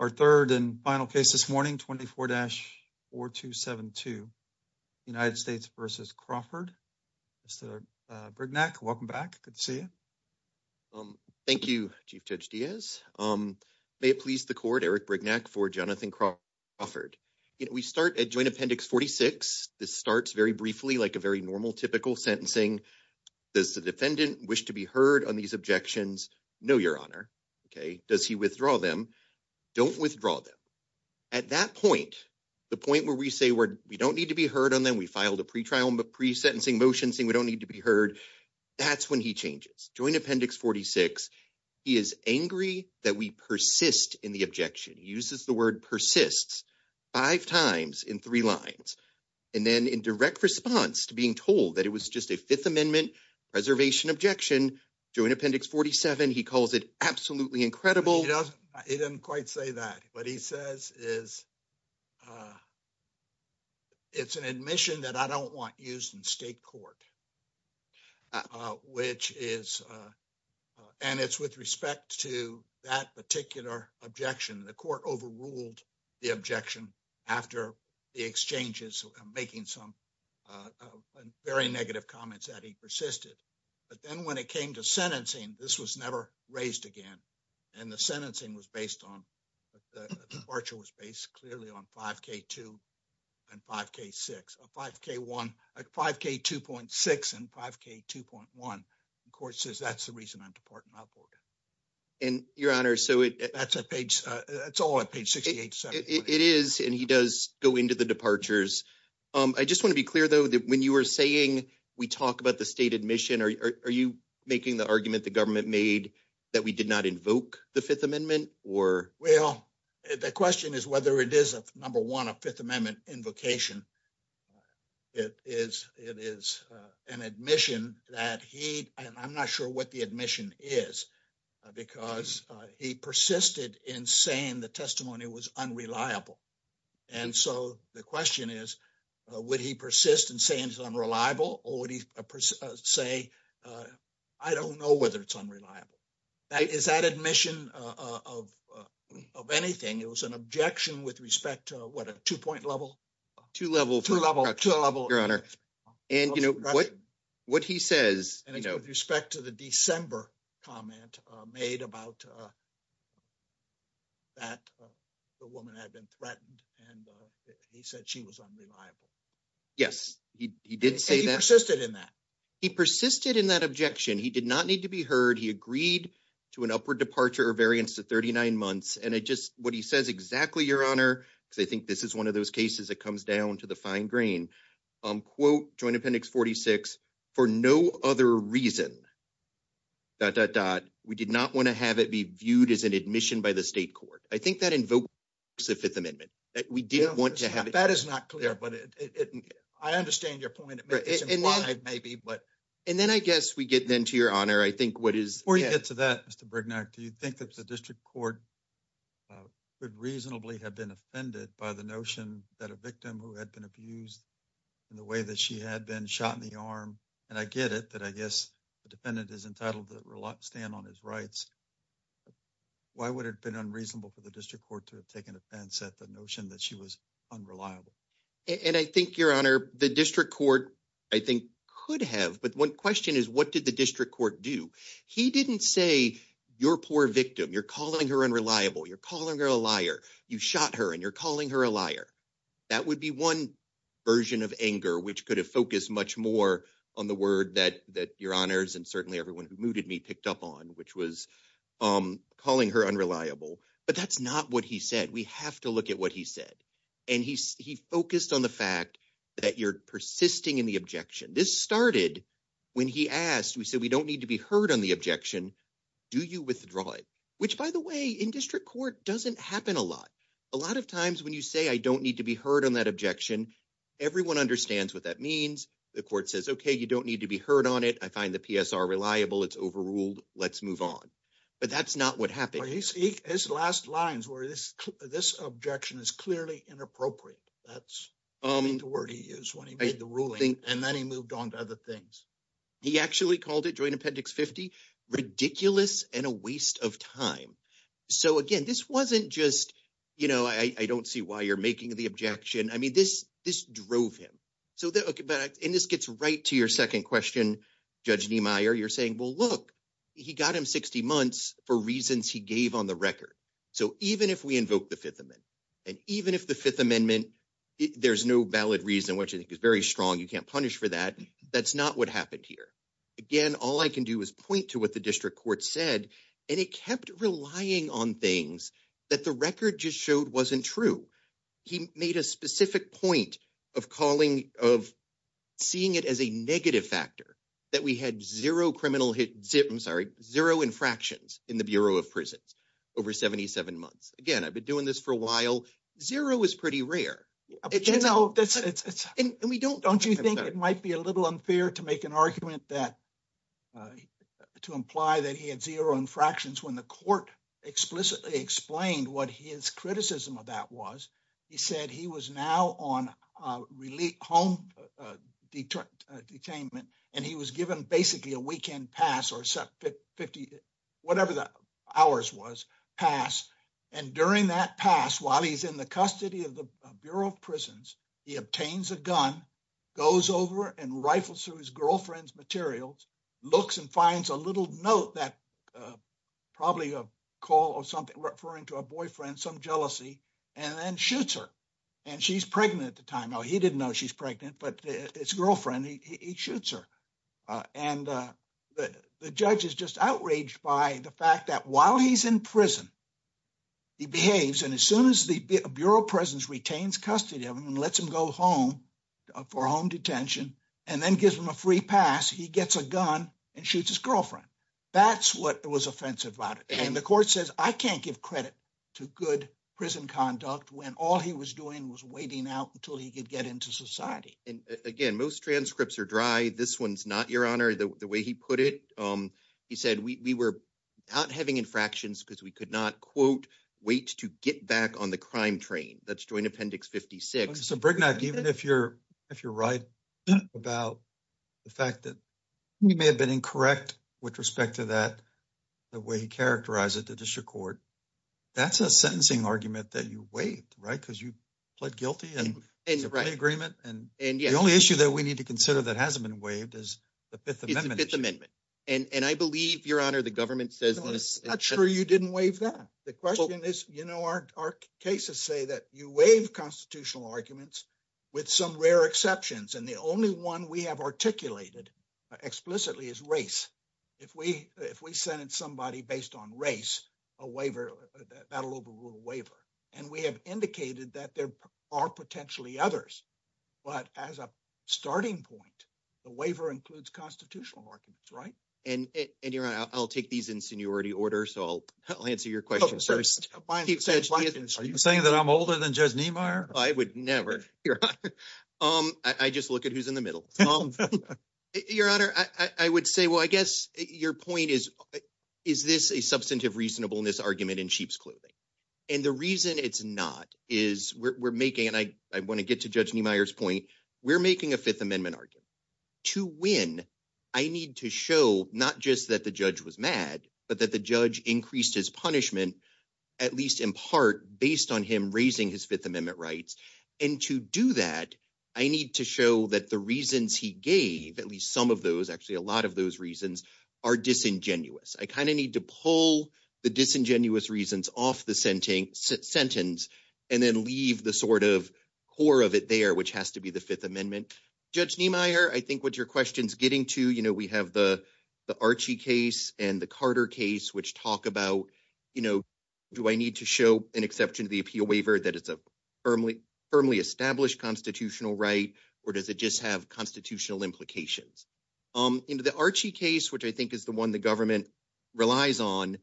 Our 3rd and final case this morning, 24 dash or 27 to. United States versus Crawford, Mr. Brignac welcome back. Good to see you. Thank you. Chief judge Diaz, um, may it please the court Eric Brignac for Jonathan Crawford. Offered, we start at joint appendix 46. this starts very briefly, like a very normal, typical sentencing. Does the defendant wish to be heard on these objections? No, your honor. Okay, does he withdraw them? Don't withdraw them. At that point, the point where we say, we don't need to be heard on them. We filed a pre trial, but pre sentencing motion saying we don't need to be heard. That's when he changes joint appendix. 46. He is angry that we persist in the objection uses the word persists. 5 times in 3 lines, and then in direct response to being told that it was just a 5th amendment. Preservation objection, join appendix 47. he calls it absolutely incredible. He doesn't quite say that. What he says is. It's an admission that I don't want used in state court. Which is, and it's with respect to that particular objection, the court overruled. The objection after the exchanges, making some. Uh, very negative comments that he persisted. But then when it came to sentencing, this was never raised again. And the sentencing was based on departure was based clearly on 5 K, 2. And 5 K, 6, 5 K, 1, 5 K, 2.6 and 5 K, 2.1. Court says that's the reason I'm departing upward and Your honor. So that's a page. It's all a page. It is and he does go into the departures. I just want to be clear though that when you were saying, we talk about the state admission. Are you making the argument the government made that we did not invoke the 5th amendment or well, the question is whether it is a number 1, a 5th amendment invocation. It is it is an admission that he, and I'm not sure what the admission is. Because he persisted in saying the testimony was unreliable. And so the question is, would he persist and say, and it's unreliable or would he say. I don't know whether it's unreliable that is that admission of of anything. It was an objection with respect to what a 2 point level. To level to level your honor and, you know, what. What he says, and with respect to the December comment made about. That the woman had been threatened, and he said she was unreliable. Yes, he did say that he persisted in that. He persisted in that objection, he did not need to be heard. He agreed to an upward departure or variance to 39 months. And it just what he says exactly your honor. Because I think this is 1 of those cases. It comes down to the fine grain. Quote, join appendix 46 for no other reason. Dot dot dot, we did not want to have it be viewed as an admission by the state court. I think that invoke. So, 5th amendment that we didn't want to have that is not clear, but I understand your point. It may be, but. And then I guess we get then to your honor, I think what is where you get to that? Mr. do you think that the district court. Could reasonably have been offended by the notion that a victim who had been abused. In the way that she had been shot in the arm, and I get it that I guess the defendant is entitled to stand on his rights. Why would it have been unreasonable for the district court to have taken offense at the notion that she was. Unreliable, and I think your honor, the district court. I think could have, but 1 question is, what did the district court do? He didn't say your poor victim you're calling her unreliable. You're calling her a liar. You shot her and you're calling her a liar. That would be 1 version of anger, which could have focused much more on the word that that your honors and certainly everyone who mooted me picked up on, which was calling her unreliable. But that's not what he said. We have to look at what he said. And he, he focused on the fact that you're persisting in the objection. This started. When he asked, we said, we don't need to be heard on the objection. Do you withdraw it, which, by the way, in district court doesn't happen a lot. A lot of times when you say, I don't need to be heard on that objection. Everyone understands what that means. The court says, okay, you don't need to be heard on it. I find the PSR reliable. It's overruled. Let's move on. But that's not what happened his last lines where this, this objection is clearly inappropriate. That's. Um, the word he is when he made the ruling, and then he moved on to other things. He actually called it joint appendix, 50 ridiculous and a waste of time. So, again, this wasn't just, you know, I don't see why you're making the objection. I mean, this, this drove him. So, and this gets right to your 2nd question. Judge, you're saying, well, look, he got him 60 months for reasons he gave on the record. So, even if we invoke the 5th amendment, and even if the 5th amendment. There's no valid reason, which I think is very strong. You can't punish for that. That's not what happened here. Again, all I can do is point to what the district court said, and it kept relying on things that the record just showed wasn't true. He made a specific point of calling of. Seeing it as a negative factor that we had 0 criminal hit. I'm sorry. 0 infractions in the Bureau of prisons. Over 77 months again, I've been doing this for a while. 0 is pretty rare. And we don't don't you think it might be a little unfair to make an argument that. To imply that he had 0 infractions when the court. Explicitly explained what his criticism of that was. He said he was now on a relief home detainment and he was given basically a weekend pass or 50. Whatever the hours was passed and during that pass while he's in the custody of the Bureau of prisons, he obtains a gun. Goes over and rifles through his girlfriend's materials. Looks and finds a little note that probably a call or something referring to a boyfriend, some jealousy. And then shoots her and she's pregnant at the time. Oh, he didn't know she's pregnant, but it's girlfriend. He shoots her. And the judge is just outraged by the fact that while he's in prison. He behaves and as soon as the Bureau of prisons retains custody of him and lets him go home. For home detention, and then gives him a free pass. He gets a gun and shoots his girlfriend. That's what it was offensive about it and the court says, I can't give credit. To good prison conduct when all he was doing was waiting out until he could get into society and again, most transcripts are dry. This 1's not your honor. The way he put it, he said we were. Not having infractions because we could not quote wait to get back on the crime train. That's joined appendix. 56. so if you're if you're right. About the fact that you may have been incorrect with respect to that. The way he characterized it, the district court, that's a sentencing argument that you wait, right? Because you. Plead guilty and agreement and the only issue that we need to consider that hasn't been waived is. The 5th amendment and I believe your honor, the government says, not sure you didn't waive that. The question is, you know, our cases say that you waive constitutional arguments. With some rare exceptions, and the only 1 we have articulated. Explicitly is race if we, if we send it somebody based on race. A waiver battle over waiver, and we have indicated that there are potentially others. But as a starting point, the waiver includes constitutional arguments, right? And I'll take these in seniority order. So I'll I'll answer your question. Are you saying that I'm older than just I would never I just look at who's in the middle. Your honor, I would say, well, I guess your point is, is this a substantive reasonableness argument in sheep's clothing? And the reason it's not is we're making and I, I want to get to judge Myers point. We're making a 5th amendment argument to win. I need to show not just that the judge was mad, but that the judge increased his punishment. At least in part, based on him raising his 5th amendment rights and to do that. I need to show that the reasons he gave, at least some of those, actually, a lot of those reasons are disingenuous. I kind of need to pull the disingenuous reasons off the sentence sentence. And then leave the sort of core of it there, which has to be the 5th amendment judge. I think what your question's getting to, you know, we have the. The case and the Carter case, which talk about. You know, do I need to show an exception to the appeal waiver that it's a. Firmly firmly established constitutional, right? Or does it just have constitutional implications? Into the case, which I think is the 1, the government. Relies on,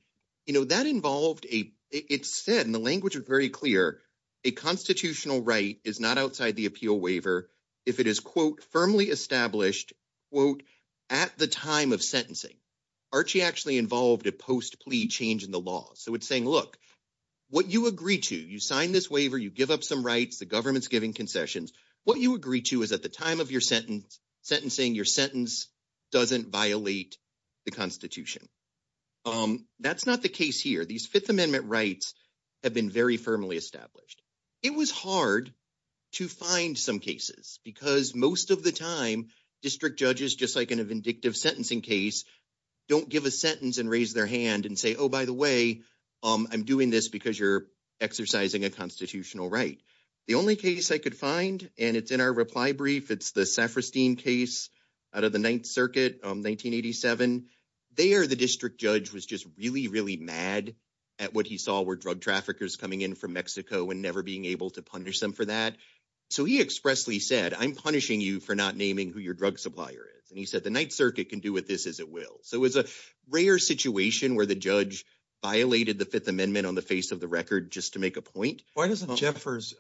you know, that involved a, it said, and the language was very clear. A constitutional right is not outside the appeal waiver. If it is quote, firmly established at the time of sentencing. Archie actually involved a post plea change in the law. So it's saying, look. What you agree to, you sign this waiver, you give up some rights. The government's giving concessions. What you agree to is at the time of your sentence. Sentencing your sentence doesn't violate. The Constitution, that's not the case here. These 5th amendment rights. Have been very firmly established. It was hard. To find some cases, because most of the time district judges, just like in a vindictive sentencing case. Don't give a sentence and raise their hand and say, oh, by the way, I'm doing this because you're exercising a constitutional, right? The only case I could find, and it's in our reply brief, it's the sephastine case. Out of the 9th circuit 1987, they are, the district judge was just really, really mad. At what he saw were drug traffickers coming in from Mexico and never being able to punish them for that. So, he expressly said, I'm punishing you for not naming who your drug supplier is and he said, the 9th circuit can do with this as it will. So it's a rare situation where the judge. Violated the 5th amendment on the face of the record, just to make a point. Why doesn't Jeffers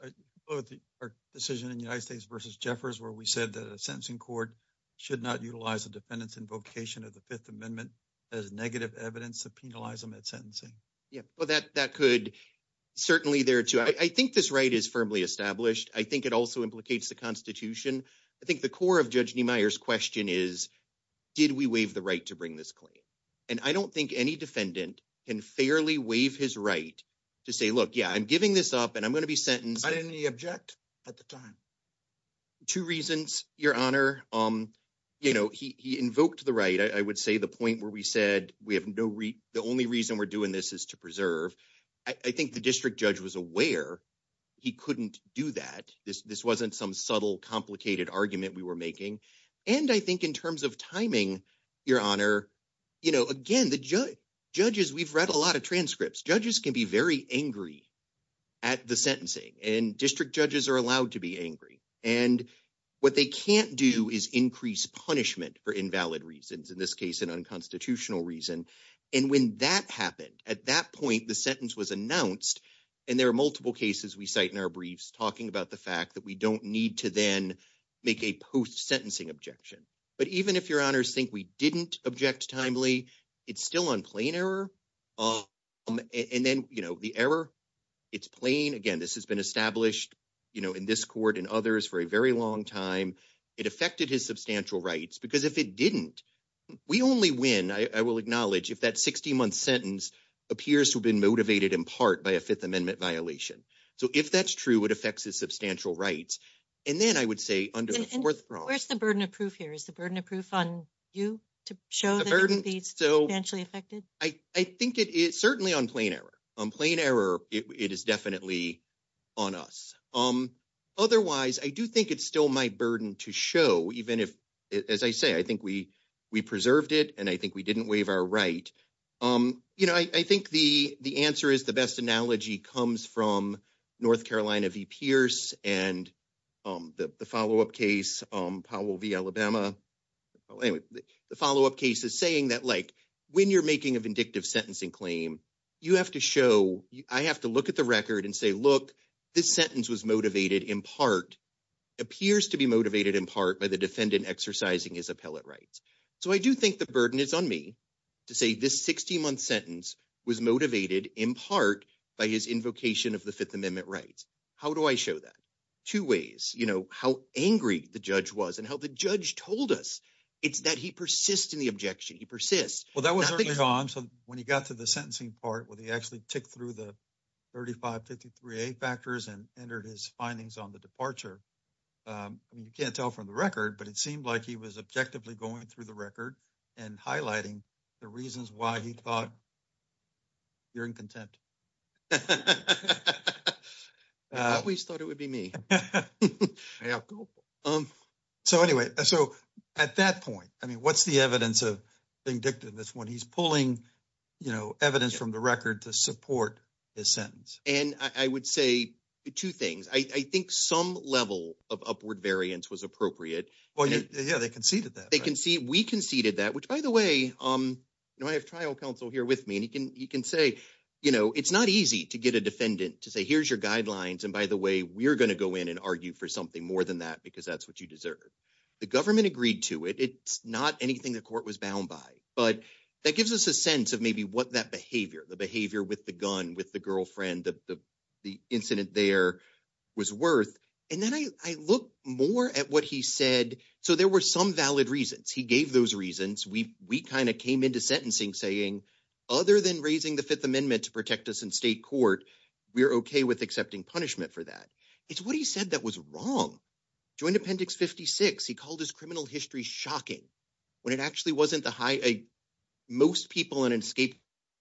decision in the United States versus Jeffers where we said that a sentencing court. Should not utilize the defendants invocation of the 5th amendment. As negative evidence to penalize them at sentencing. Yeah, well, that that could. Certainly there, too, I think this right is firmly established. I think it also implicates the Constitution. I think the core of judge Myers question is. Did we waive the right to bring this claim and I don't think any defendant can fairly wave his right. To say, look, yeah, I'm giving this up and I'm going to be sentenced. I didn't object at the time. 2 reasons your honor. You know, he invoked the right I would say the point where we said we have no, the only reason we're doing this is to preserve. I think the district judge was aware he couldn't do that. This wasn't some subtle, complicated argument we were making. And I think in terms of timing, your honor. You know, again, the judges we've read a lot of transcripts judges can be very angry. At the sentencing and district judges are allowed to be angry and. What they can't do is increase punishment for invalid reasons in this case, an unconstitutional reason. And when that happened at that point, the sentence was announced. And there are multiple cases we cite in our briefs talking about the fact that we don't need to then make a post sentencing objection. But even if your honors think we didn't object timely, it's still on plain error and then the error. It's plain again, this has been established in this court and others for a very long time. It affected his substantial rights, because if it didn't. We only win, I will acknowledge if that 60 month sentence appears to have been motivated in part by a 5th amendment violation. So, if that's true, it affects his substantial rights. And then I would say under the 4th, where's the burden of proof here is the burden of proof on. You to show the burden so eventually affected. I think it is certainly on plain error on plain error. It is definitely. On us, otherwise, I do think it's still my burden to show, even if, as I say, I think we, we preserved it and I think we didn't waive our right. You know, I think the answer is the best analogy comes from North Carolina, V. Pierce and. The follow up case, Powell V, Alabama. The follow up case is saying that, like, when you're making a vindictive sentencing claim. You have to show I have to look at the record and say, look, this sentence was motivated in part. Appears to be motivated in part by the defendant exercising his appellate rights. So I do think the burden is on me. To say this 60 month sentence was motivated in part by his invocation of the 5th amendment rights. How do I show that 2 ways, you know, how angry the judge was and how the judge told us it's that he persists in the objection. He persists. Well, that was early on. So when he got to the sentencing part, where they actually tick through the. 3553 factors and entered his findings on the departure. You can't tell from the record, but it seemed like he was objectively going through the record and highlighting the reasons why he thought. You're in contempt, we thought it would be me. So, anyway, so at that point, I mean, what's the evidence of. Being dictated this 1, he's pulling evidence from the record to support. His sentence, and I would say 2 things. I think some level of upward variance was appropriate. Well, yeah, they conceded that they can see. We conceded that, which, by the way. No, I have trial counsel here with me and he can, he can say, you know, it's not easy to get a defendant to say, here's your guidelines. And by the way, we're going to go in and argue for something more than that, because that's what you deserve. The government agreed to it. It's not anything the court was bound by, but that gives us a sense of maybe what that behavior, the behavior with the gun with the girlfriend, the. The incident there was worth, and then I look more at what he said, so there were some valid reasons. He gave those reasons. We, we kind of came into sentencing saying. Other than raising the 5th amendment to protect us in state court, we're okay with accepting punishment for that. It's what he said. That was wrong. Join appendix 56, he called his criminal history shocking. When it actually wasn't the high, most people in an escape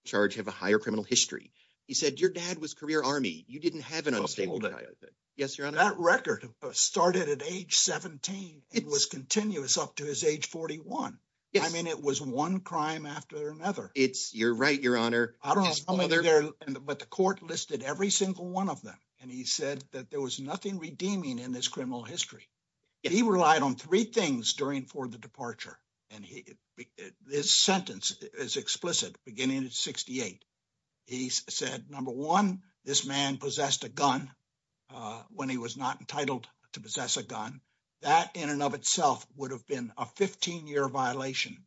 charge have a higher criminal history. He said, your dad was career army. You didn't have an unstable. Yes. Your record started at age 17. it was continuous up to his age. 41. I mean, it was 1 crime after another. It's you're right. Your honor. I don't know, but the court listed every single 1 of them and he said that there was nothing redeeming in this criminal history. He relied on 3 things during for the departure and his sentence is explicit beginning at 68. He said, number 1, this man possessed a gun. When he was not entitled to possess a gun that in and of itself would have been a 15 year violation.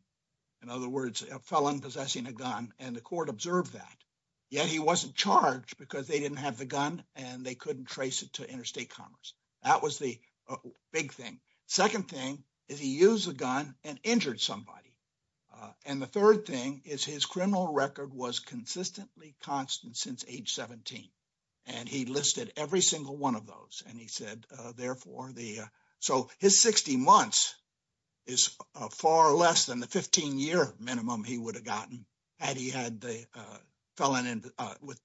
In other words, a felon possessing a gun, and the court observed that. Yeah, he wasn't charged because they didn't have the gun and they couldn't trace it to interstate commerce. That was the big thing. 2nd thing is he use a gun and injured somebody. And the 3rd thing is his criminal record was consistently constant since age 17. And he listed every single 1 of those and he said, therefore the, so his 60 months. Is far less than the 15 year minimum he would have gotten. And he had the felon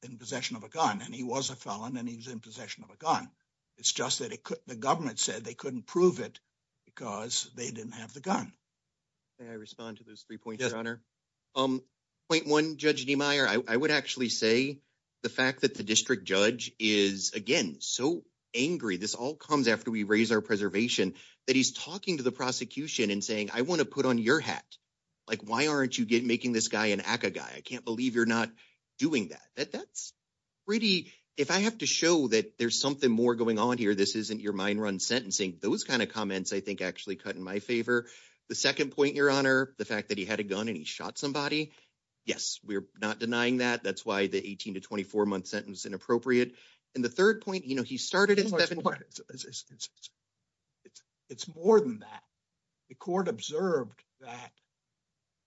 in possession of a gun and he was a felon and he was in possession of a gun. It's just that the government said they couldn't prove it. Because they didn't have the gun and I respond to those 3 points on her. Point 1, judge, I would actually say. The fact that the district judge is again, so angry, this all comes after we raise our preservation that he's talking to the prosecution and saying, I want to put on your hat. Like, why aren't you making this guy and a guy? I can't believe you're not doing that. That's. Pretty if I have to show that there's something more going on here, this isn't your mind run sentencing those kind of comments. I think actually cut in my favor. The 2nd point, your honor, the fact that he had a gun and he shot somebody. Yes, we're not denying that. That's why the 18 to 24 month sentence inappropriate. And the 3rd point, you know, he started it's more than that. The court observed that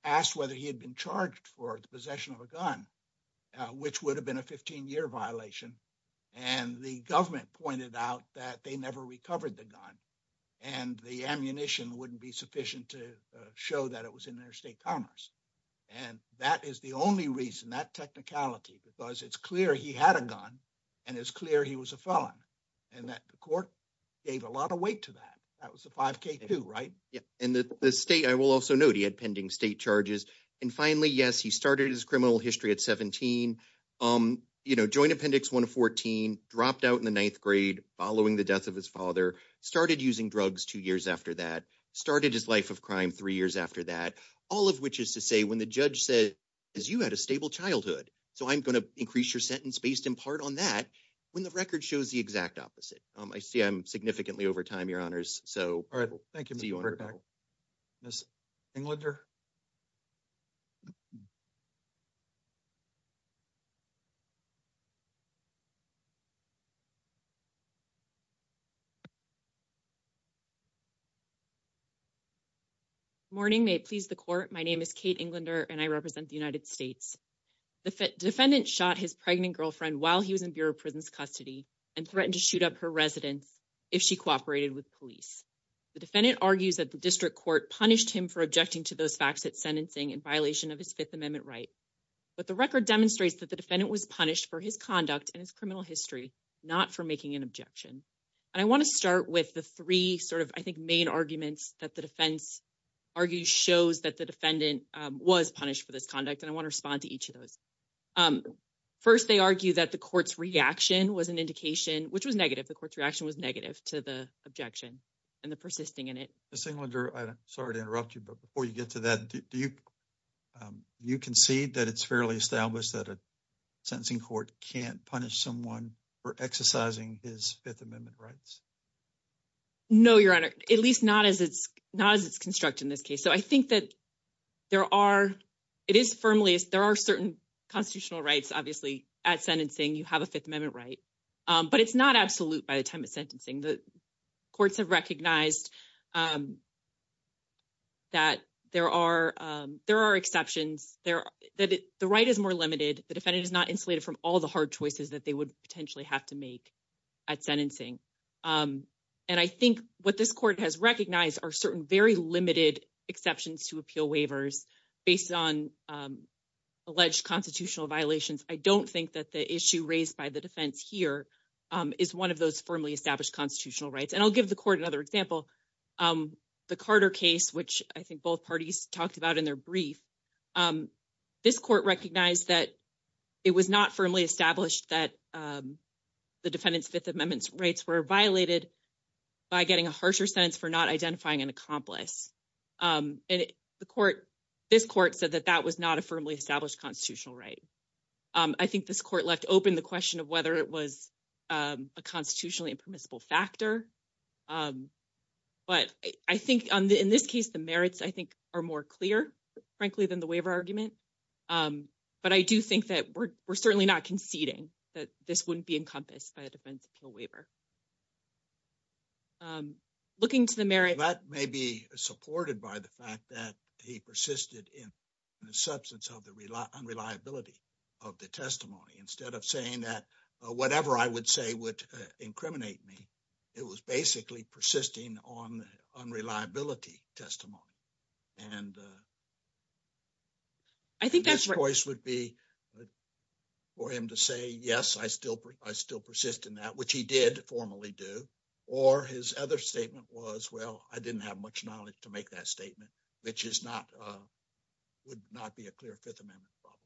asked whether he had been charged for possession of a gun. Which would have been a 15 year violation and the government pointed out that they never recovered the gun. And the ammunition wouldn't be sufficient to show that it was in their state commerce. And that is the only reason that technicality, because it's clear he had a gun. And it's clear he was a felon and that the court. Gave a lot of weight to that. That was the 5 K2, right? Yeah. And the state, I will also note he had pending state charges. And finally, yes, he started his criminal history at 17. Um, you know, joint appendix, 1 to 14 dropped out in the 9th grade, following the death of his father started using drugs 2 years after that started his life of crime 3 years after that all of which is to say when the judge said. As you had a stable childhood, so I'm going to increase your sentence based in part on that when the record shows the exact opposite. I see. I'm significantly over time. Your honors. So. All right. Thank you. Miss Englander. Morning may please the court. My name is Kate Englander and I represent the United States. The defendant shot his pregnant girlfriend while he was in Bureau prisons custody. And threatened to shoot up her residence if she cooperated with police. The defendant argues that the district court punished him for objecting to those facts that sentencing and violation of his 5th amendment, right? But the record demonstrates that the defendant was punished for his conduct and his criminal history, not for making an objection. And I want to start with the 3 sort of, I think, main arguments that the defense. Argue shows that the defendant was punished for this conduct and I want to respond to each of those. 1st, they argue that the court's reaction was an indication, which was negative. The court's reaction was negative to the objection. And the persisting in it, the same under, I'm sorry to interrupt you, but before you get to that, do you. You can see that it's fairly established that a. Sentencing court can't punish someone for exercising his 5th amendment rights. No, your honor, at least not as it's not as it's constructed in this case. So I think that. There are, it is firmly, there are certain constitutional rights. Obviously at sentencing, you have a 5th amendment, right? But it's not absolute by the time of sentencing the. Courts have recognized that there are there are exceptions there that the right is more limited. The defendant is not insulated from all the hard choices that they would potentially have to make. At sentencing, and I think what this court has recognized are certain very limited exceptions to appeal waivers based on. Alleged constitutional violations, I don't think that the issue raised by the defense here. Um, is 1 of those firmly established constitutional rights and I'll give the court another example. Um, the Carter case, which I think both parties talked about in their brief. This court recognized that it was not firmly established that, um. The defendant's 5th amendments rates were violated by getting a harsher sentence for not identifying an accomplice. Um, and the court, this court said that that was not a firmly established constitutional, right? I think this court left open the question of whether it was. Um, a constitutionally permissible factor. Um, but I think on the, in this case, the merits, I think are more clear, frankly, than the waiver argument. Um, but I do think that we're, we're certainly not conceding that this wouldn't be encompassed by a defense appeal waiver. Looking to the merit that may be supported by the fact that he persisted in. In the substance of the reliability of the testimony, instead of saying that whatever I would say would incriminate me. It was basically persisting on unreliability testimony. And, uh, I think that's choice would be. For him to say, yes, I still, I still persist in that, which he did formally do. Or his other statement was, well, I didn't have much knowledge to make that statement, which is not. Would not be a clear 5th amendment problem.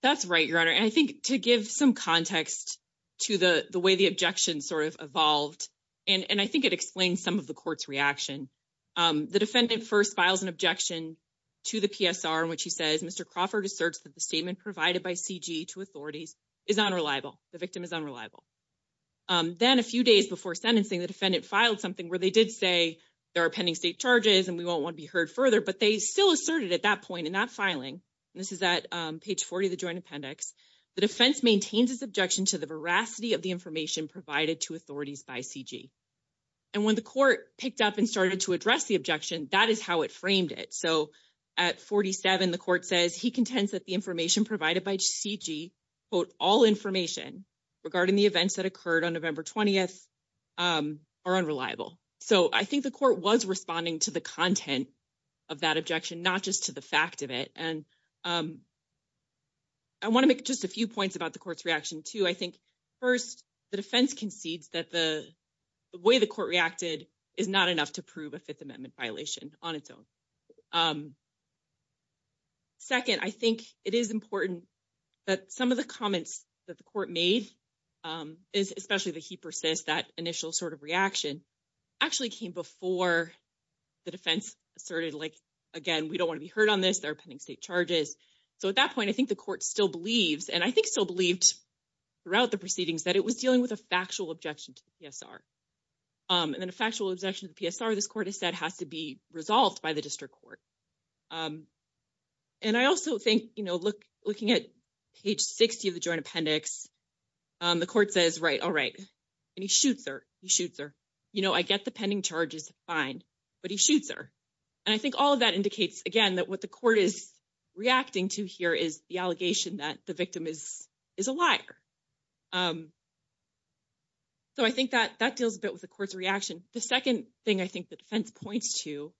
That's right. Your honor. And I think to give some context. To the, the way the objection sort of evolved, and I think it explains some of the court's reaction. The defendant 1st files an objection to the PSR, which he says, Mr. Crawford asserts that the statement provided by CG to authorities. Is unreliable the victim is unreliable then a few days before sentencing the defendant filed something where they did say. There are pending state charges, and we won't want to be heard further, but they still asserted at that point and not filing. This is that page 40, the joint appendix, the defense maintains his objection to the veracity of the information provided to authorities by CG. And when the court picked up and started to address the objection, that is how it framed it. So. At 47, the court says he contends that the information provided by CG. Quote, all information regarding the events that occurred on November 20th. Are unreliable, so I think the court was responding to the content. Of that objection, not just to the fact of it and. I want to make just a few points about the court's reaction to, I think. 1st, the defense concedes that the way the court reacted is not enough to prove a 5th amendment violation on its own. 2nd, I think it is important. That some of the comments that the court made. Is especially the, he persists that initial sort of reaction. Actually came before the defense asserted, like. Again, we don't want to be heard on this. They're pending state charges. So, at that point, I think the court still believes and I think still believed. Throughout the proceedings that it was dealing with a factual objection to. And then a factual objection to this court has said has to be resolved by the district court. And I also think, you know, look, looking at. Page 60 of the joint appendix, the court says, right? All right. And he shoots her, he shoots her, you know, I get the pending charges fine. But he shoots her, and I think all of that indicates again, that what the court is. Reacting to here is the allegation that the victim is. Is a liar, so I think that that deals a bit with the court's reaction. The 2nd thing I think the defense points to.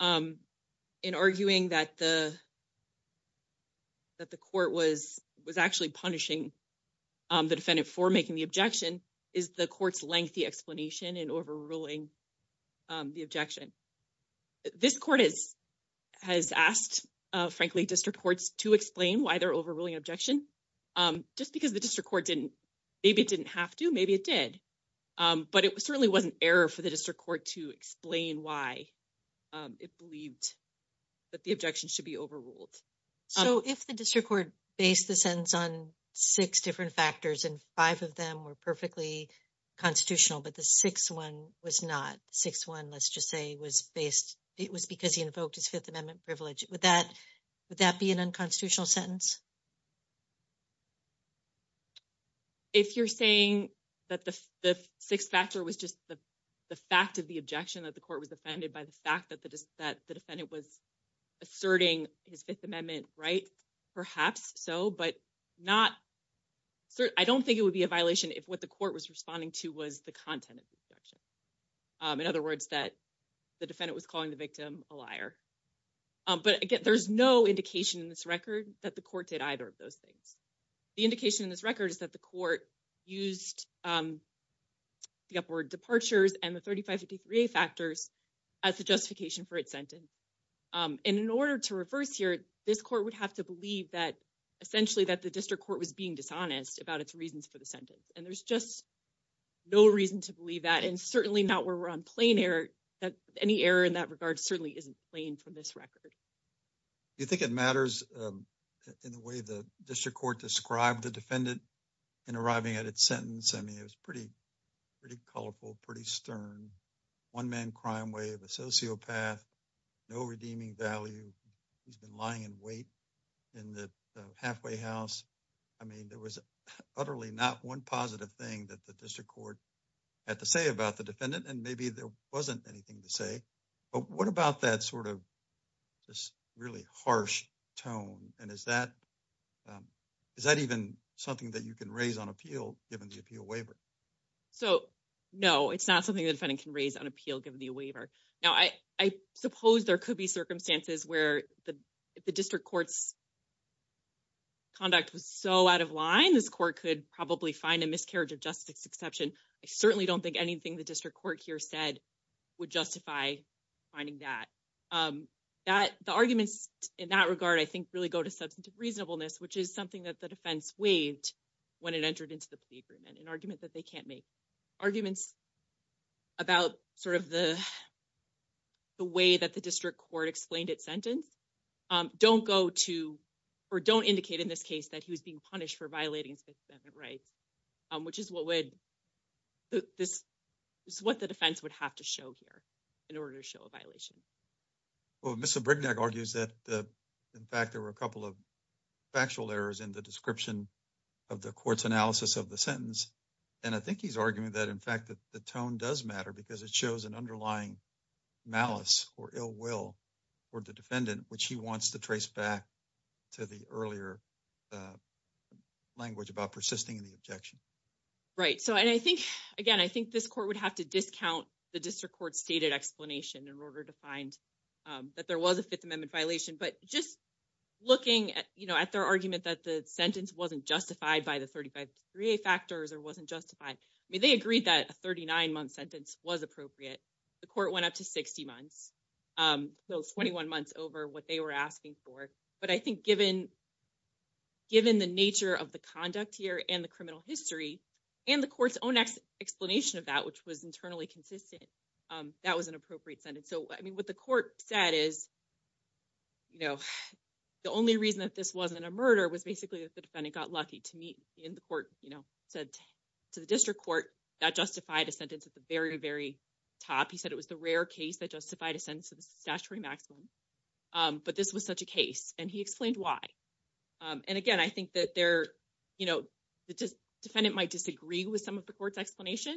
In arguing that the. That the court was was actually punishing the defendant for making the objection. Is the court's lengthy explanation and overruling. The objection this court is. Has asked frankly, district courts to explain why they're overruling objection. Just because the district court didn't maybe it didn't have to maybe it did. But it certainly wasn't error for the district court to explain why. It believed that the objection should be overruled. So, if the district court based the sentence on 6 different factors, and 5 of them were perfectly. Constitutional, but the 6th, 1 was not 6. 1. let's just say was based. It was because he invoked his 5th amendment privilege with that. Would that be an unconstitutional sentence if you're saying. That the 6th factor was just the fact of the objection that the court was offended by the fact that the defendant was. Asserting his 5th amendment, right? Perhaps so, but. Not, I don't think it would be a violation if what the court was responding to was the content of the objection. In other words, that the defendant was calling the victim a liar. But again, there's no indication in this record that the court did either of those things. The indication in this record is that the court used, um. The upward departures and the 3553 factors. As the justification for its sentence, and in order to reverse here, this court would have to believe that. Essentially, that the district court was being dishonest about its reasons for the sentence and there's just. No reason to believe that and certainly not where we're on plane air that any error in that regard certainly isn't playing from this record. You think it matters in the way the district court described the defendant. And arriving at its sentence, I mean, it was pretty, pretty colorful, pretty stern. 1, man, crime way of a sociopath, no redeeming value. He's been lying in wait in the halfway house. I mean, there was utterly not 1 positive thing that the district court. Had to say about the defendant, and maybe there wasn't anything to say. But what about that sort of just really harsh tone? And is that. Is that even something that you can raise on appeal given the appeal waiver? So, no, it's not something that can raise on appeal given the waiver. Now, I, I suppose there could be circumstances where the district courts. Conduct was so out of line, this court could probably find a miscarriage of justice exception. I certainly don't think anything the district court here said. Would justify finding that that the arguments in that regard, I think, really go to substantive reasonableness, which is something that the defense waived. When it entered into the agreement, an argument that they can't make arguments. About sort of the, the way that the district court explained it sentence. Don't go to, or don't indicate in this case that he was being punished for violating rights. Which is what would this. It's what the defense would have to show here in order to show a violation. Well, Mr. Brignac argues that the, in fact, there were a couple of. Factual errors in the description of the court's analysis of the sentence. And I think he's arguing that, in fact, that the tone does matter because it shows an underlying. Malice or ill will, or the defendant, which he wants to trace back. To the earlier language about persisting in the objection. Right so, and I think again, I think this court would have to discount the district court stated explanation in order to find. That there was a 5th amendment violation, but just looking at their argument that the sentence wasn't justified by the 35 3 factors or wasn't justified. I mean, they agreed that a 39 month sentence was appropriate. The court went up to 60 months, 21 months over what they were asking for, but I think given. Given the nature of the conduct here and the criminal history. And the court's own explanation of that, which was internally consistent. That was an appropriate sentence. So, I mean, what the court said is. You know, the only reason that this wasn't a murder was basically that the defendant got lucky to meet in the court, you know, said. To the district court that justified a sentence at the very, very. Top, he said it was the rare case that justified a sentence of statutory maximum. But this was such a case, and he explained why. And again, I think that there, you know, the defendant might disagree with some of the court's explanation.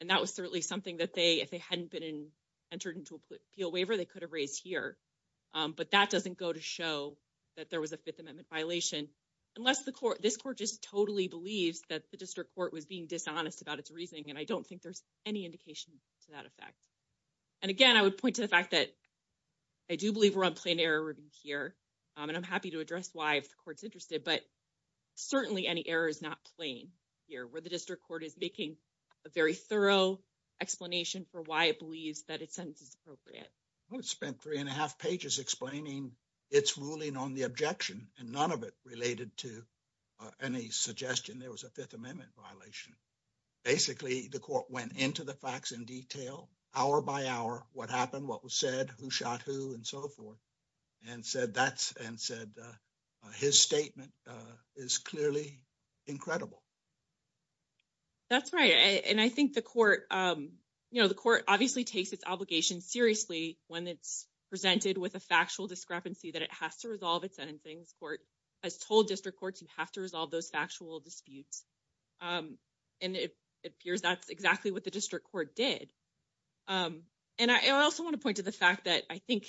And that was certainly something that they, if they hadn't been entered into a waiver, they could have raised here. But that doesn't go to show that there was a 5th amendment violation. Unless the court, this court just totally believes that the district court was being dishonest about its reasoning. And I don't think there's any indication. To that effect, and again, I would point to the fact that. I do believe we're on plain error here, and I'm happy to address why if the court's interested, but. Certainly, any error is not playing here where the district court is making. A very thorough explanation for why it believes that it's appropriate. I spent 3 and a half pages explaining it's ruling on the objection and none of it related to. Any suggestion there was a 5th amendment violation. Basically, the court went into the facts in detail hour by hour, what happened, what was said who shot who and so forth. And said, that's and said, uh, his statement, uh, is clearly. Incredible that's right and I think the court, um. You know, the court obviously takes its obligation seriously when it's. Presented with a factual discrepancy that it has to resolve its end things court. As told district courts, you have to resolve those factual disputes. And it appears that's exactly what the district court did. And I also want to point to the fact that I think.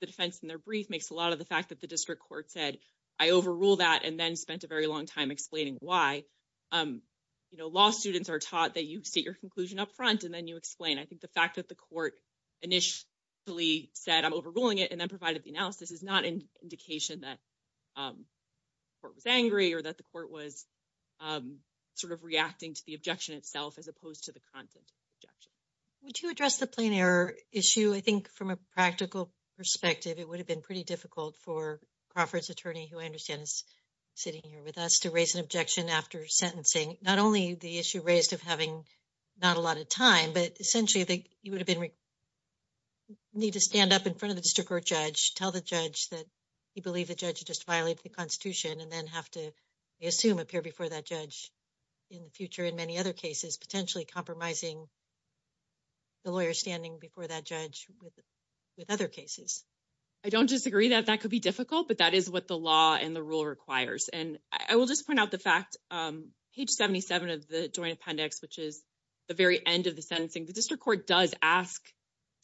The defense in their brief makes a lot of the fact that the district court said, I overrule that and then spent a very long time explaining why. You know, law students are taught that you see your conclusion up front and then you explain. I think the fact that the court. Initially said, I'm overruling it and then provided the analysis is not an indication that. It was angry, or that the court was. Sort of reacting to the objection itself, as opposed to the content. Would you address the plain error issue? I think from a practical perspective, it would have been pretty difficult for Crawford's attorney who I understand is. Sitting here with us to raise an objection after sentencing, not only the issue raised of having. Not a lot of time, but essentially you would have been. Need to stand up in front of the district court judge, tell the judge that. You believe the judge just violate the Constitution and then have to assume appear before that judge. In the future, in many other cases, potentially compromising. The lawyer standing before that judge with. With other cases, I don't disagree that that could be difficult, but that is what the law and the rule requires and I will just point out the fact page 77 of the joint appendix, which is. The very end of the sentencing, the district court does ask.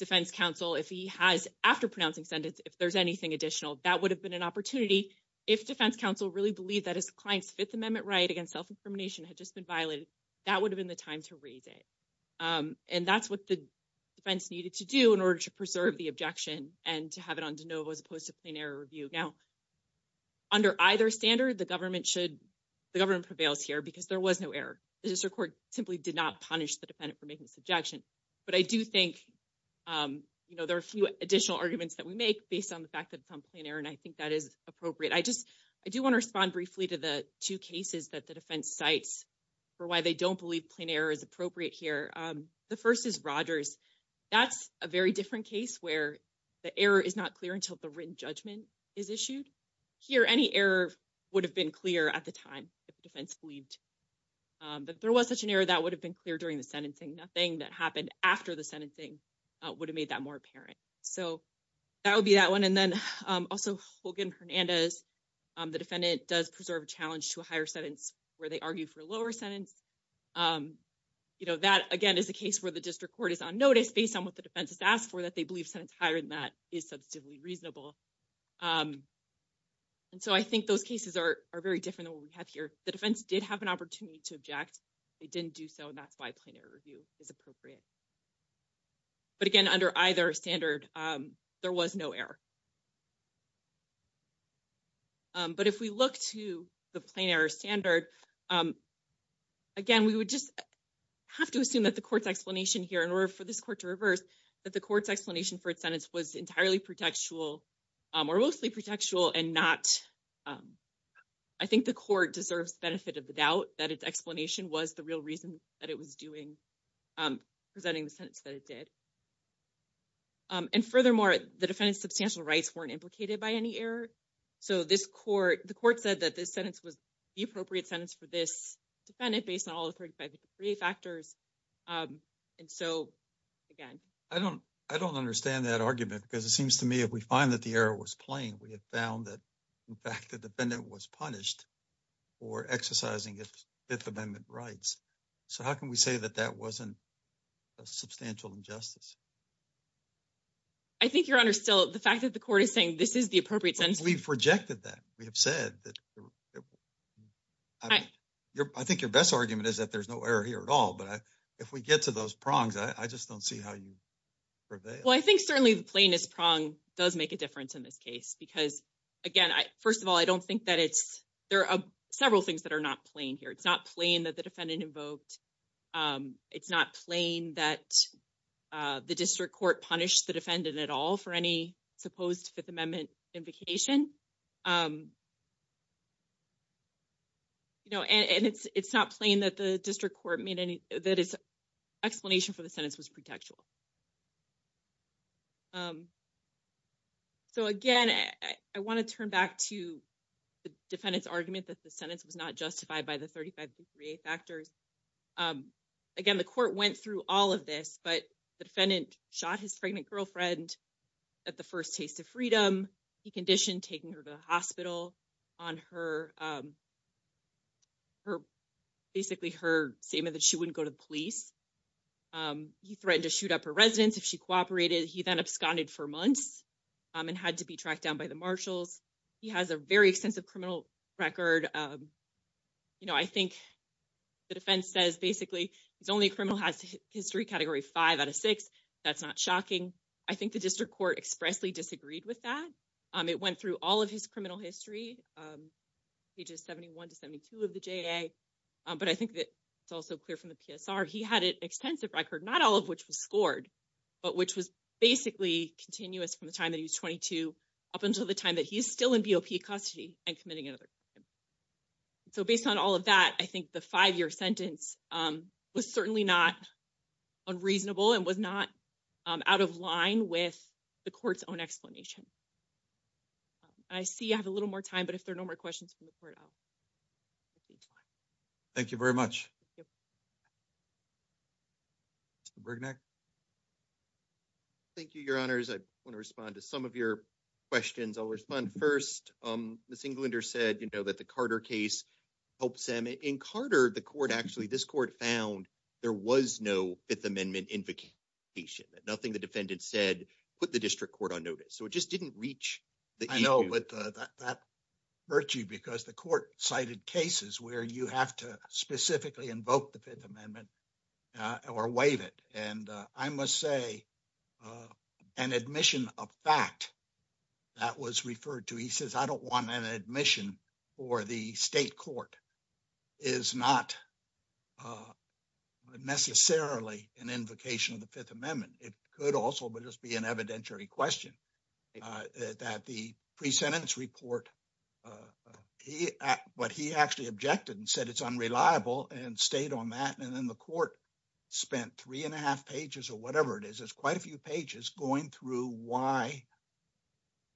Defense counsel, if he has after pronouncing sentence, if there's anything additional, that would have been an opportunity. If defense counsel really believe that his client's 5th amendment right against self-incrimination had just been violated. That would have been the time to raise it and that's what the. Defense needed to do in order to preserve the objection and to have it on to know, as opposed to plain error review now. Under either standard, the government should. The government prevails here, because there was no error. The district court simply did not punish the defendant for making this objection. But I do think there are a few additional arguments that we make based on the fact that it's on plain error and I think that is appropriate. I just, I do want to respond briefly to the 2 cases that the defense sites. For why they don't believe plain error is appropriate here. The 1st is Rogers. That's a very different case where the error is not clear until the written judgment. Is issued here any error would have been clear at the time if the defense believed. But there was such an error that would have been clear during the sentencing. Nothing that happened after the sentencing. Would have made that more apparent, so that would be that 1 and then also Hogan Hernandez. The defendant does preserve a challenge to a higher sentence where they argue for a lower sentence. You know, that again is a case where the district court is on notice based on what the defense has asked for that they believe higher than that is substantively reasonable. And so I think those cases are are very different than what we have here. The defense did have an opportunity to object. They didn't do so, and that's why planar review is appropriate. But again, under either standard, there was no error. But if we look to the planar standard. Again, we would just have to assume that the court's explanation here in order for this court to reverse that the court's explanation for its sentence was entirely protectual. Or mostly protectual and not, um. I think the court deserves benefit of the doubt that its explanation was the real reason that it was doing. Presenting the sentence that it did, and furthermore, the defendant's substantial rights weren't implicated by any error. So, this court, the court said that this sentence was. The appropriate sentence for this defendant based on all the 3 factors. And so, again, I don't, I don't understand that argument because it seems to me if we find that the error was playing, we have found that. In fact, the defendant was punished or exercising its 5th amendment rights. So, how can we say that that wasn't a substantial injustice? I think your honor still the fact that the court is saying this is the appropriate sense. We've rejected that. We have said that. I think your best argument is that there's no error here at all. But if we get to those prongs, I just don't see how you. Well, I think certainly the plane is prong does make a difference in this case because. Again, 1st of all, I don't think that it's there are several things that are not playing here. It's not playing that the defendant invoked. It's not playing that the district court punished the defendant at all for any supposed 5th amendment invocation. Um, you know, and it's, it's not playing that the district court meeting that is. Explanation for the sentence was pretextual. So, again, I want to turn back to. The defendant's argument that the sentence was not justified by the 35th reactors. Again, the court went through all of this, but the defendant shot his pregnant girlfriend. At the 1st, taste of freedom, he conditioned taking her to the hospital. On her, um, her. Basically, her statement that she wouldn't go to the police. He threatened to shoot up her residence if she cooperated, he then absconded for months. And had to be tracked down by the marshals. He has a very extensive criminal record. You know, I think the defense says, basically, it's only a criminal has history category 5 out of 6. that's not shocking. I think the district court expressly disagreed with that. Um, it went through all of his criminal history, um. He just 71 to 72 of the, but I think that. It's also clear from the, he had an extensive record, not all of which was scored. But which was basically continuous from the time that he was 22. Up until the time that he is still in custody and committing another. So, based on all of that, I think the 5 year sentence, um, was certainly not. Unreasonable and was not out of line with. The court's own explanation, I see you have a little more time, but if there are no more questions from the court. Thank you very much. Thank you your honors. I want to respond to some of your. Questions I'll respond 1st, um, this Englander said, you know, that the Carter case. Helps them in Carter, the court actually, this court found. There was no 5th amendment invocation that nothing the defendant said, put the district court on notice. So it just didn't reach. I know, but that hurt you because the court cited cases where you have to specifically invoke the 5th amendment. Or waive it and I must say. An admission of fact that was referred to, he says, I don't want an admission. Or the state court is not. Necessarily an invocation of the 5th amendment. It could also just be an evidentiary question. That the pre sentence report. He, but he actually objected and said, it's unreliable and stayed on that. And then the court. Spent 3 and a half pages or whatever it is. It's quite a few pages going through why.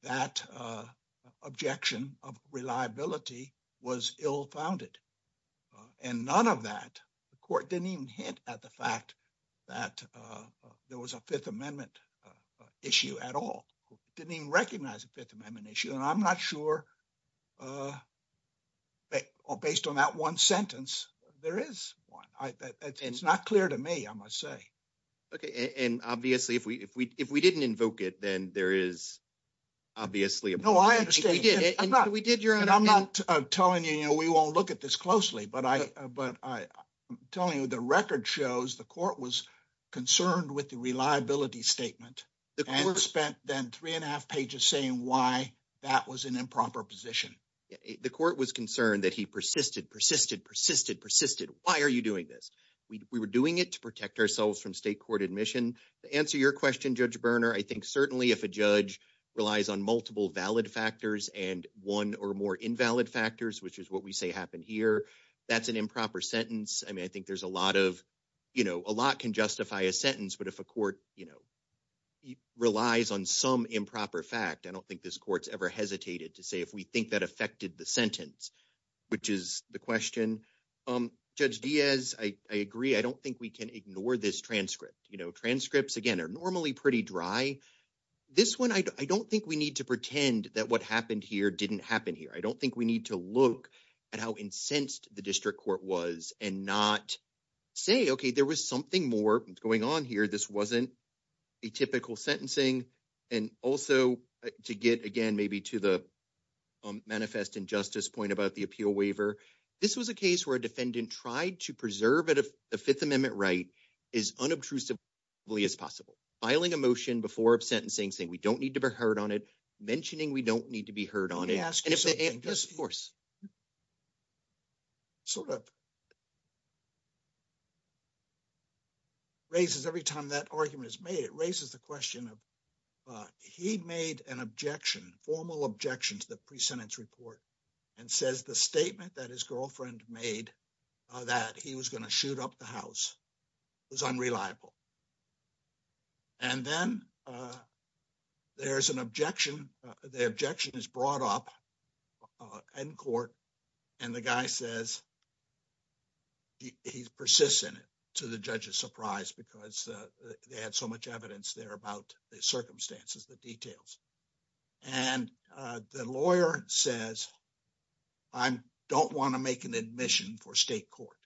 That objection of reliability was ill founded. And none of that, the court didn't even hint at the fact. That there was a 5th amendment issue at all didn't even recognize the 5th amendment issue and I'm not sure. Based on that 1 sentence, there is 1, it's not clear to me. I must say. Okay, and obviously, if we, if we, if we didn't invoke it, then there is. Obviously, no, I did it, but we did your and I'm not telling you, you know, we won't look at this closely, but I, but I. Telling you the record shows the court was concerned with the reliability statement. The course spent then 3 and a half pages saying why. That was an improper position. The court was concerned that he persisted, persisted, persisted, persisted. Why are you doing this? We were doing it to protect ourselves from state court admission to answer your question judge burner. I think certainly if a judge relies on multiple valid factors, and 1 or more invalid factors, which is what we say happen here. That's an improper sentence. I mean, I think there's a lot of. You know, a lot can justify a sentence, but if a court, you know. He relies on some improper fact. I don't think this court's ever hesitated to say if we think that affected the sentence. Which is the question judge Diaz I agree. I don't think we can ignore this transcript transcripts again are normally pretty dry. This 1, I don't think we need to pretend that what happened here didn't happen here. I don't think we need to look at how incensed the district court was and not. Say, okay, there was something more going on here. This wasn't. A typical sentencing and also to get again, maybe to the. Manifest injustice point about the appeal waiver. This was a case where a defendant tried to preserve it. If the 5th amendment, right? Is unobtrusive as possible filing a motion before sentencing saying we don't need to be heard on it. Mentioning we don't need to be heard on it. Yes, of course. Sort of raises every time that argument is made, it raises the question of. He made an objection formal objections, the pre sentence report. And says the statement that his girlfriend made. That he was going to shoot up the house was unreliable. And then there's an objection. The objection is brought up. In court, and the guy says. He's persistent to the judge's surprise because they had so much evidence there about the circumstances, the details. And the lawyer says. I don't want to make an admission for state court.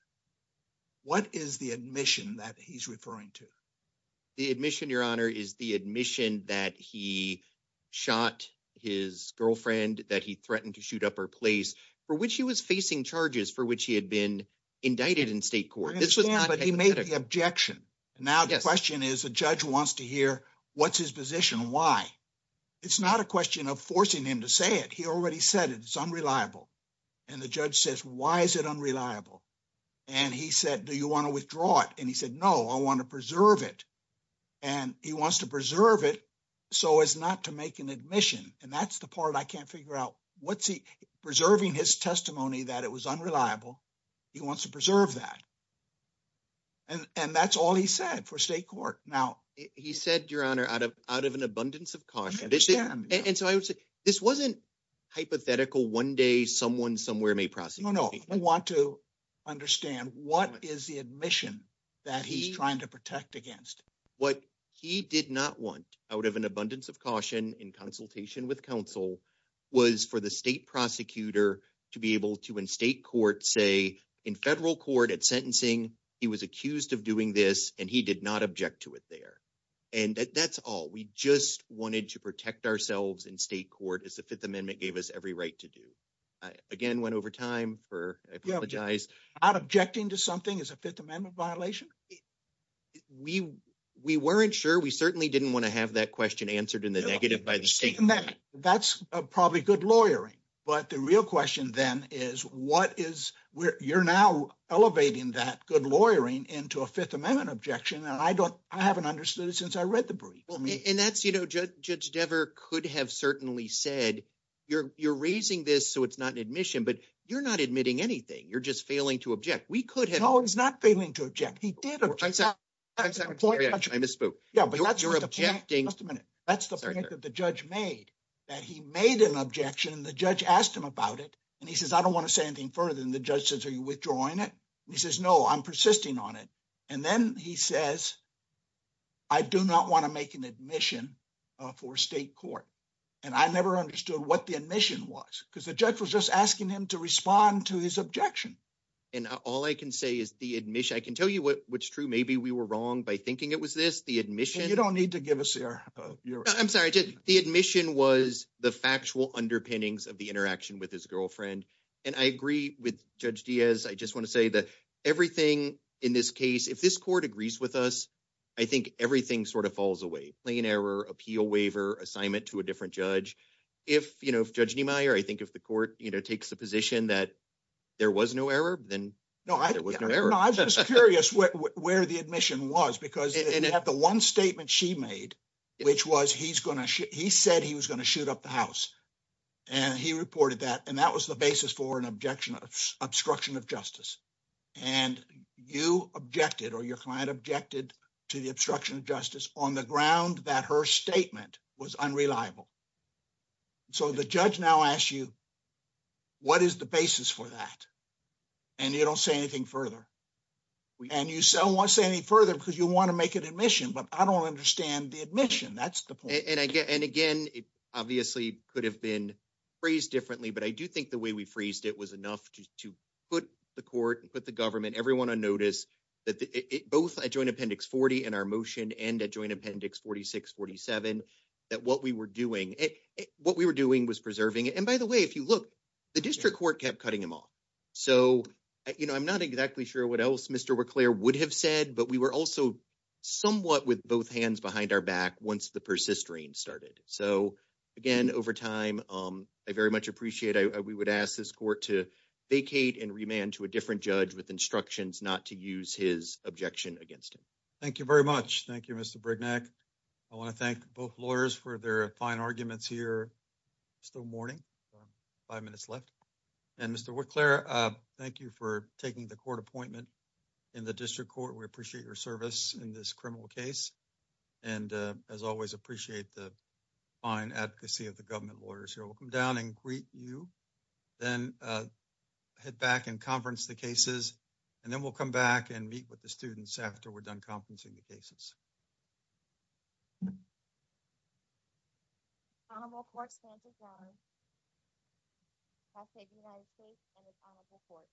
What is the admission that he's referring to? The admission your honor is the admission that he. Shot his girlfriend that he threatened to shoot up her place for which he was facing charges for which he had been. Indicted in state court, but he made the objection. Now, the question is, the judge wants to hear what's his position. Why. It's not a question of forcing him to say it. He already said it's unreliable. And the judge says, why is it unreliable? And he said, do you want to withdraw it? And he said, no, I want to preserve it. And he wants to preserve it, so as not to make an admission and that's the part I can't figure out. What's he preserving his testimony that it was unreliable. He wants to preserve that and that's all he said for state court. Now, he said, your honor out of out of an abundance of caution. And so I would say this wasn't. Hypothetical 1 day, someone somewhere may process. No, no, I want to. Understand what is the admission that he's trying to protect against what he did not want out of an abundance of caution in consultation with counsel. Was for the state prosecutor to be able to in state court, say in federal court at sentencing, he was accused of doing this and he did not object to it there. And that's all we just wanted to protect ourselves in state court is the 5th amendment gave us every right to do. Again, went over time for apologize out objecting to something is a 5th amendment violation. We, we weren't sure we certainly didn't want to have that question answered in the negative by the state. And that's probably good lawyering. But the real question then is what is where you're now elevating that good lawyering into a 5th amendment objection. And I don't, I haven't understood it since I read the brief and that's, you know, judge judge never could have certainly said. You're, you're raising this, so it's not an admission, but you're not admitting anything. You're just failing to object. We could have no, it's not failing to object. He did. I'm a spook. Yeah, but you're objecting just a minute. That's the point that the judge made. That he made an objection and the judge asked him about it, and he says, I don't want to say anything further than the judge says, are you withdrawing it? He says, no, I'm persisting on it. And then he says, I do not want to make an admission. For state court, and I never understood what the admission was because the judge was just asking him to respond to his objection. And all I can say is the admission I can tell you what's true. Maybe we were wrong by thinking it was this the admission you don't need to give us here. I'm sorry. The admission was the factual underpinnings of the interaction with his girlfriend. And I agree with judge Diaz. I just want to say that everything in this case, if this court agrees with us. I think everything sort of falls away plain error appeal waiver assignment to a different judge. If, you know, if judge, I think if the court takes a position that. There was no error, then no, I was just curious where the admission was, because at the 1 statement she made. Which was, he's going to, he said he was going to shoot up the house. And he reported that, and that was the basis for an objection of obstruction of justice. And you objected, or your client objected to the obstruction of justice on the ground that her statement was unreliable. So, the judge now ask you what is the basis for that? And you don't say anything further and you sell want to say any further because you want to make an admission, but I don't understand the admission. That's the point. And again, it obviously could have been. Phrase differently, but I do think the way we phrased it was enough to put the court and put the government everyone on notice. That both I joined appendix 40 and our motion and a joint appendix 4647. That what we were doing, what we were doing was preserving it. And by the way, if you look. The district court kept cutting him off, so I'm not exactly sure what else Mr would have said, but we were also. Somewhat with both hands behind our back once the persistent started. So. Again, over time, I very much appreciate it. We would ask this court to vacate and remand to a different judge with instructions not to use his objection against him. Thank you very much. Thank you. Mr. I want to thank both lawyers for their fine arguments here. Still morning, 5 minutes left and Mr. Claire, thank you for taking the court appointment. In the district court, we appreciate your service in this criminal case. And, uh, as always appreciate the fine advocacy of the government lawyers here, we'll come down and greet you. Then, uh, head back and conference the cases. And then we'll come back and meet with the students after we're done conferencing the cases. quote. I'll say the United States and the council reports.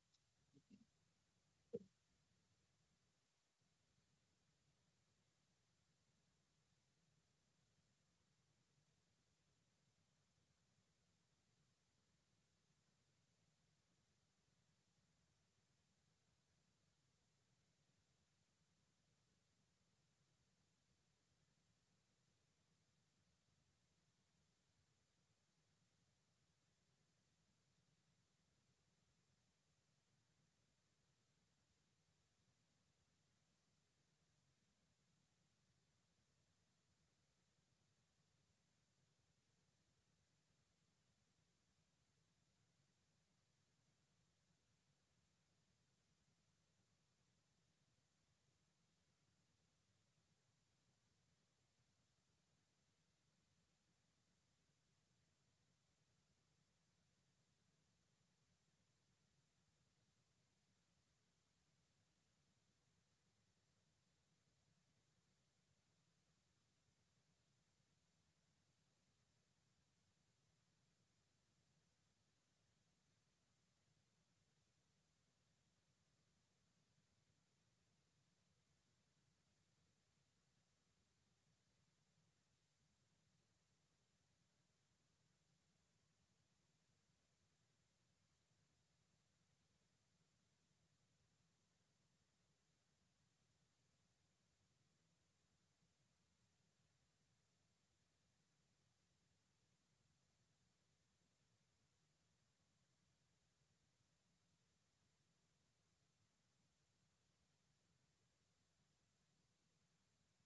I.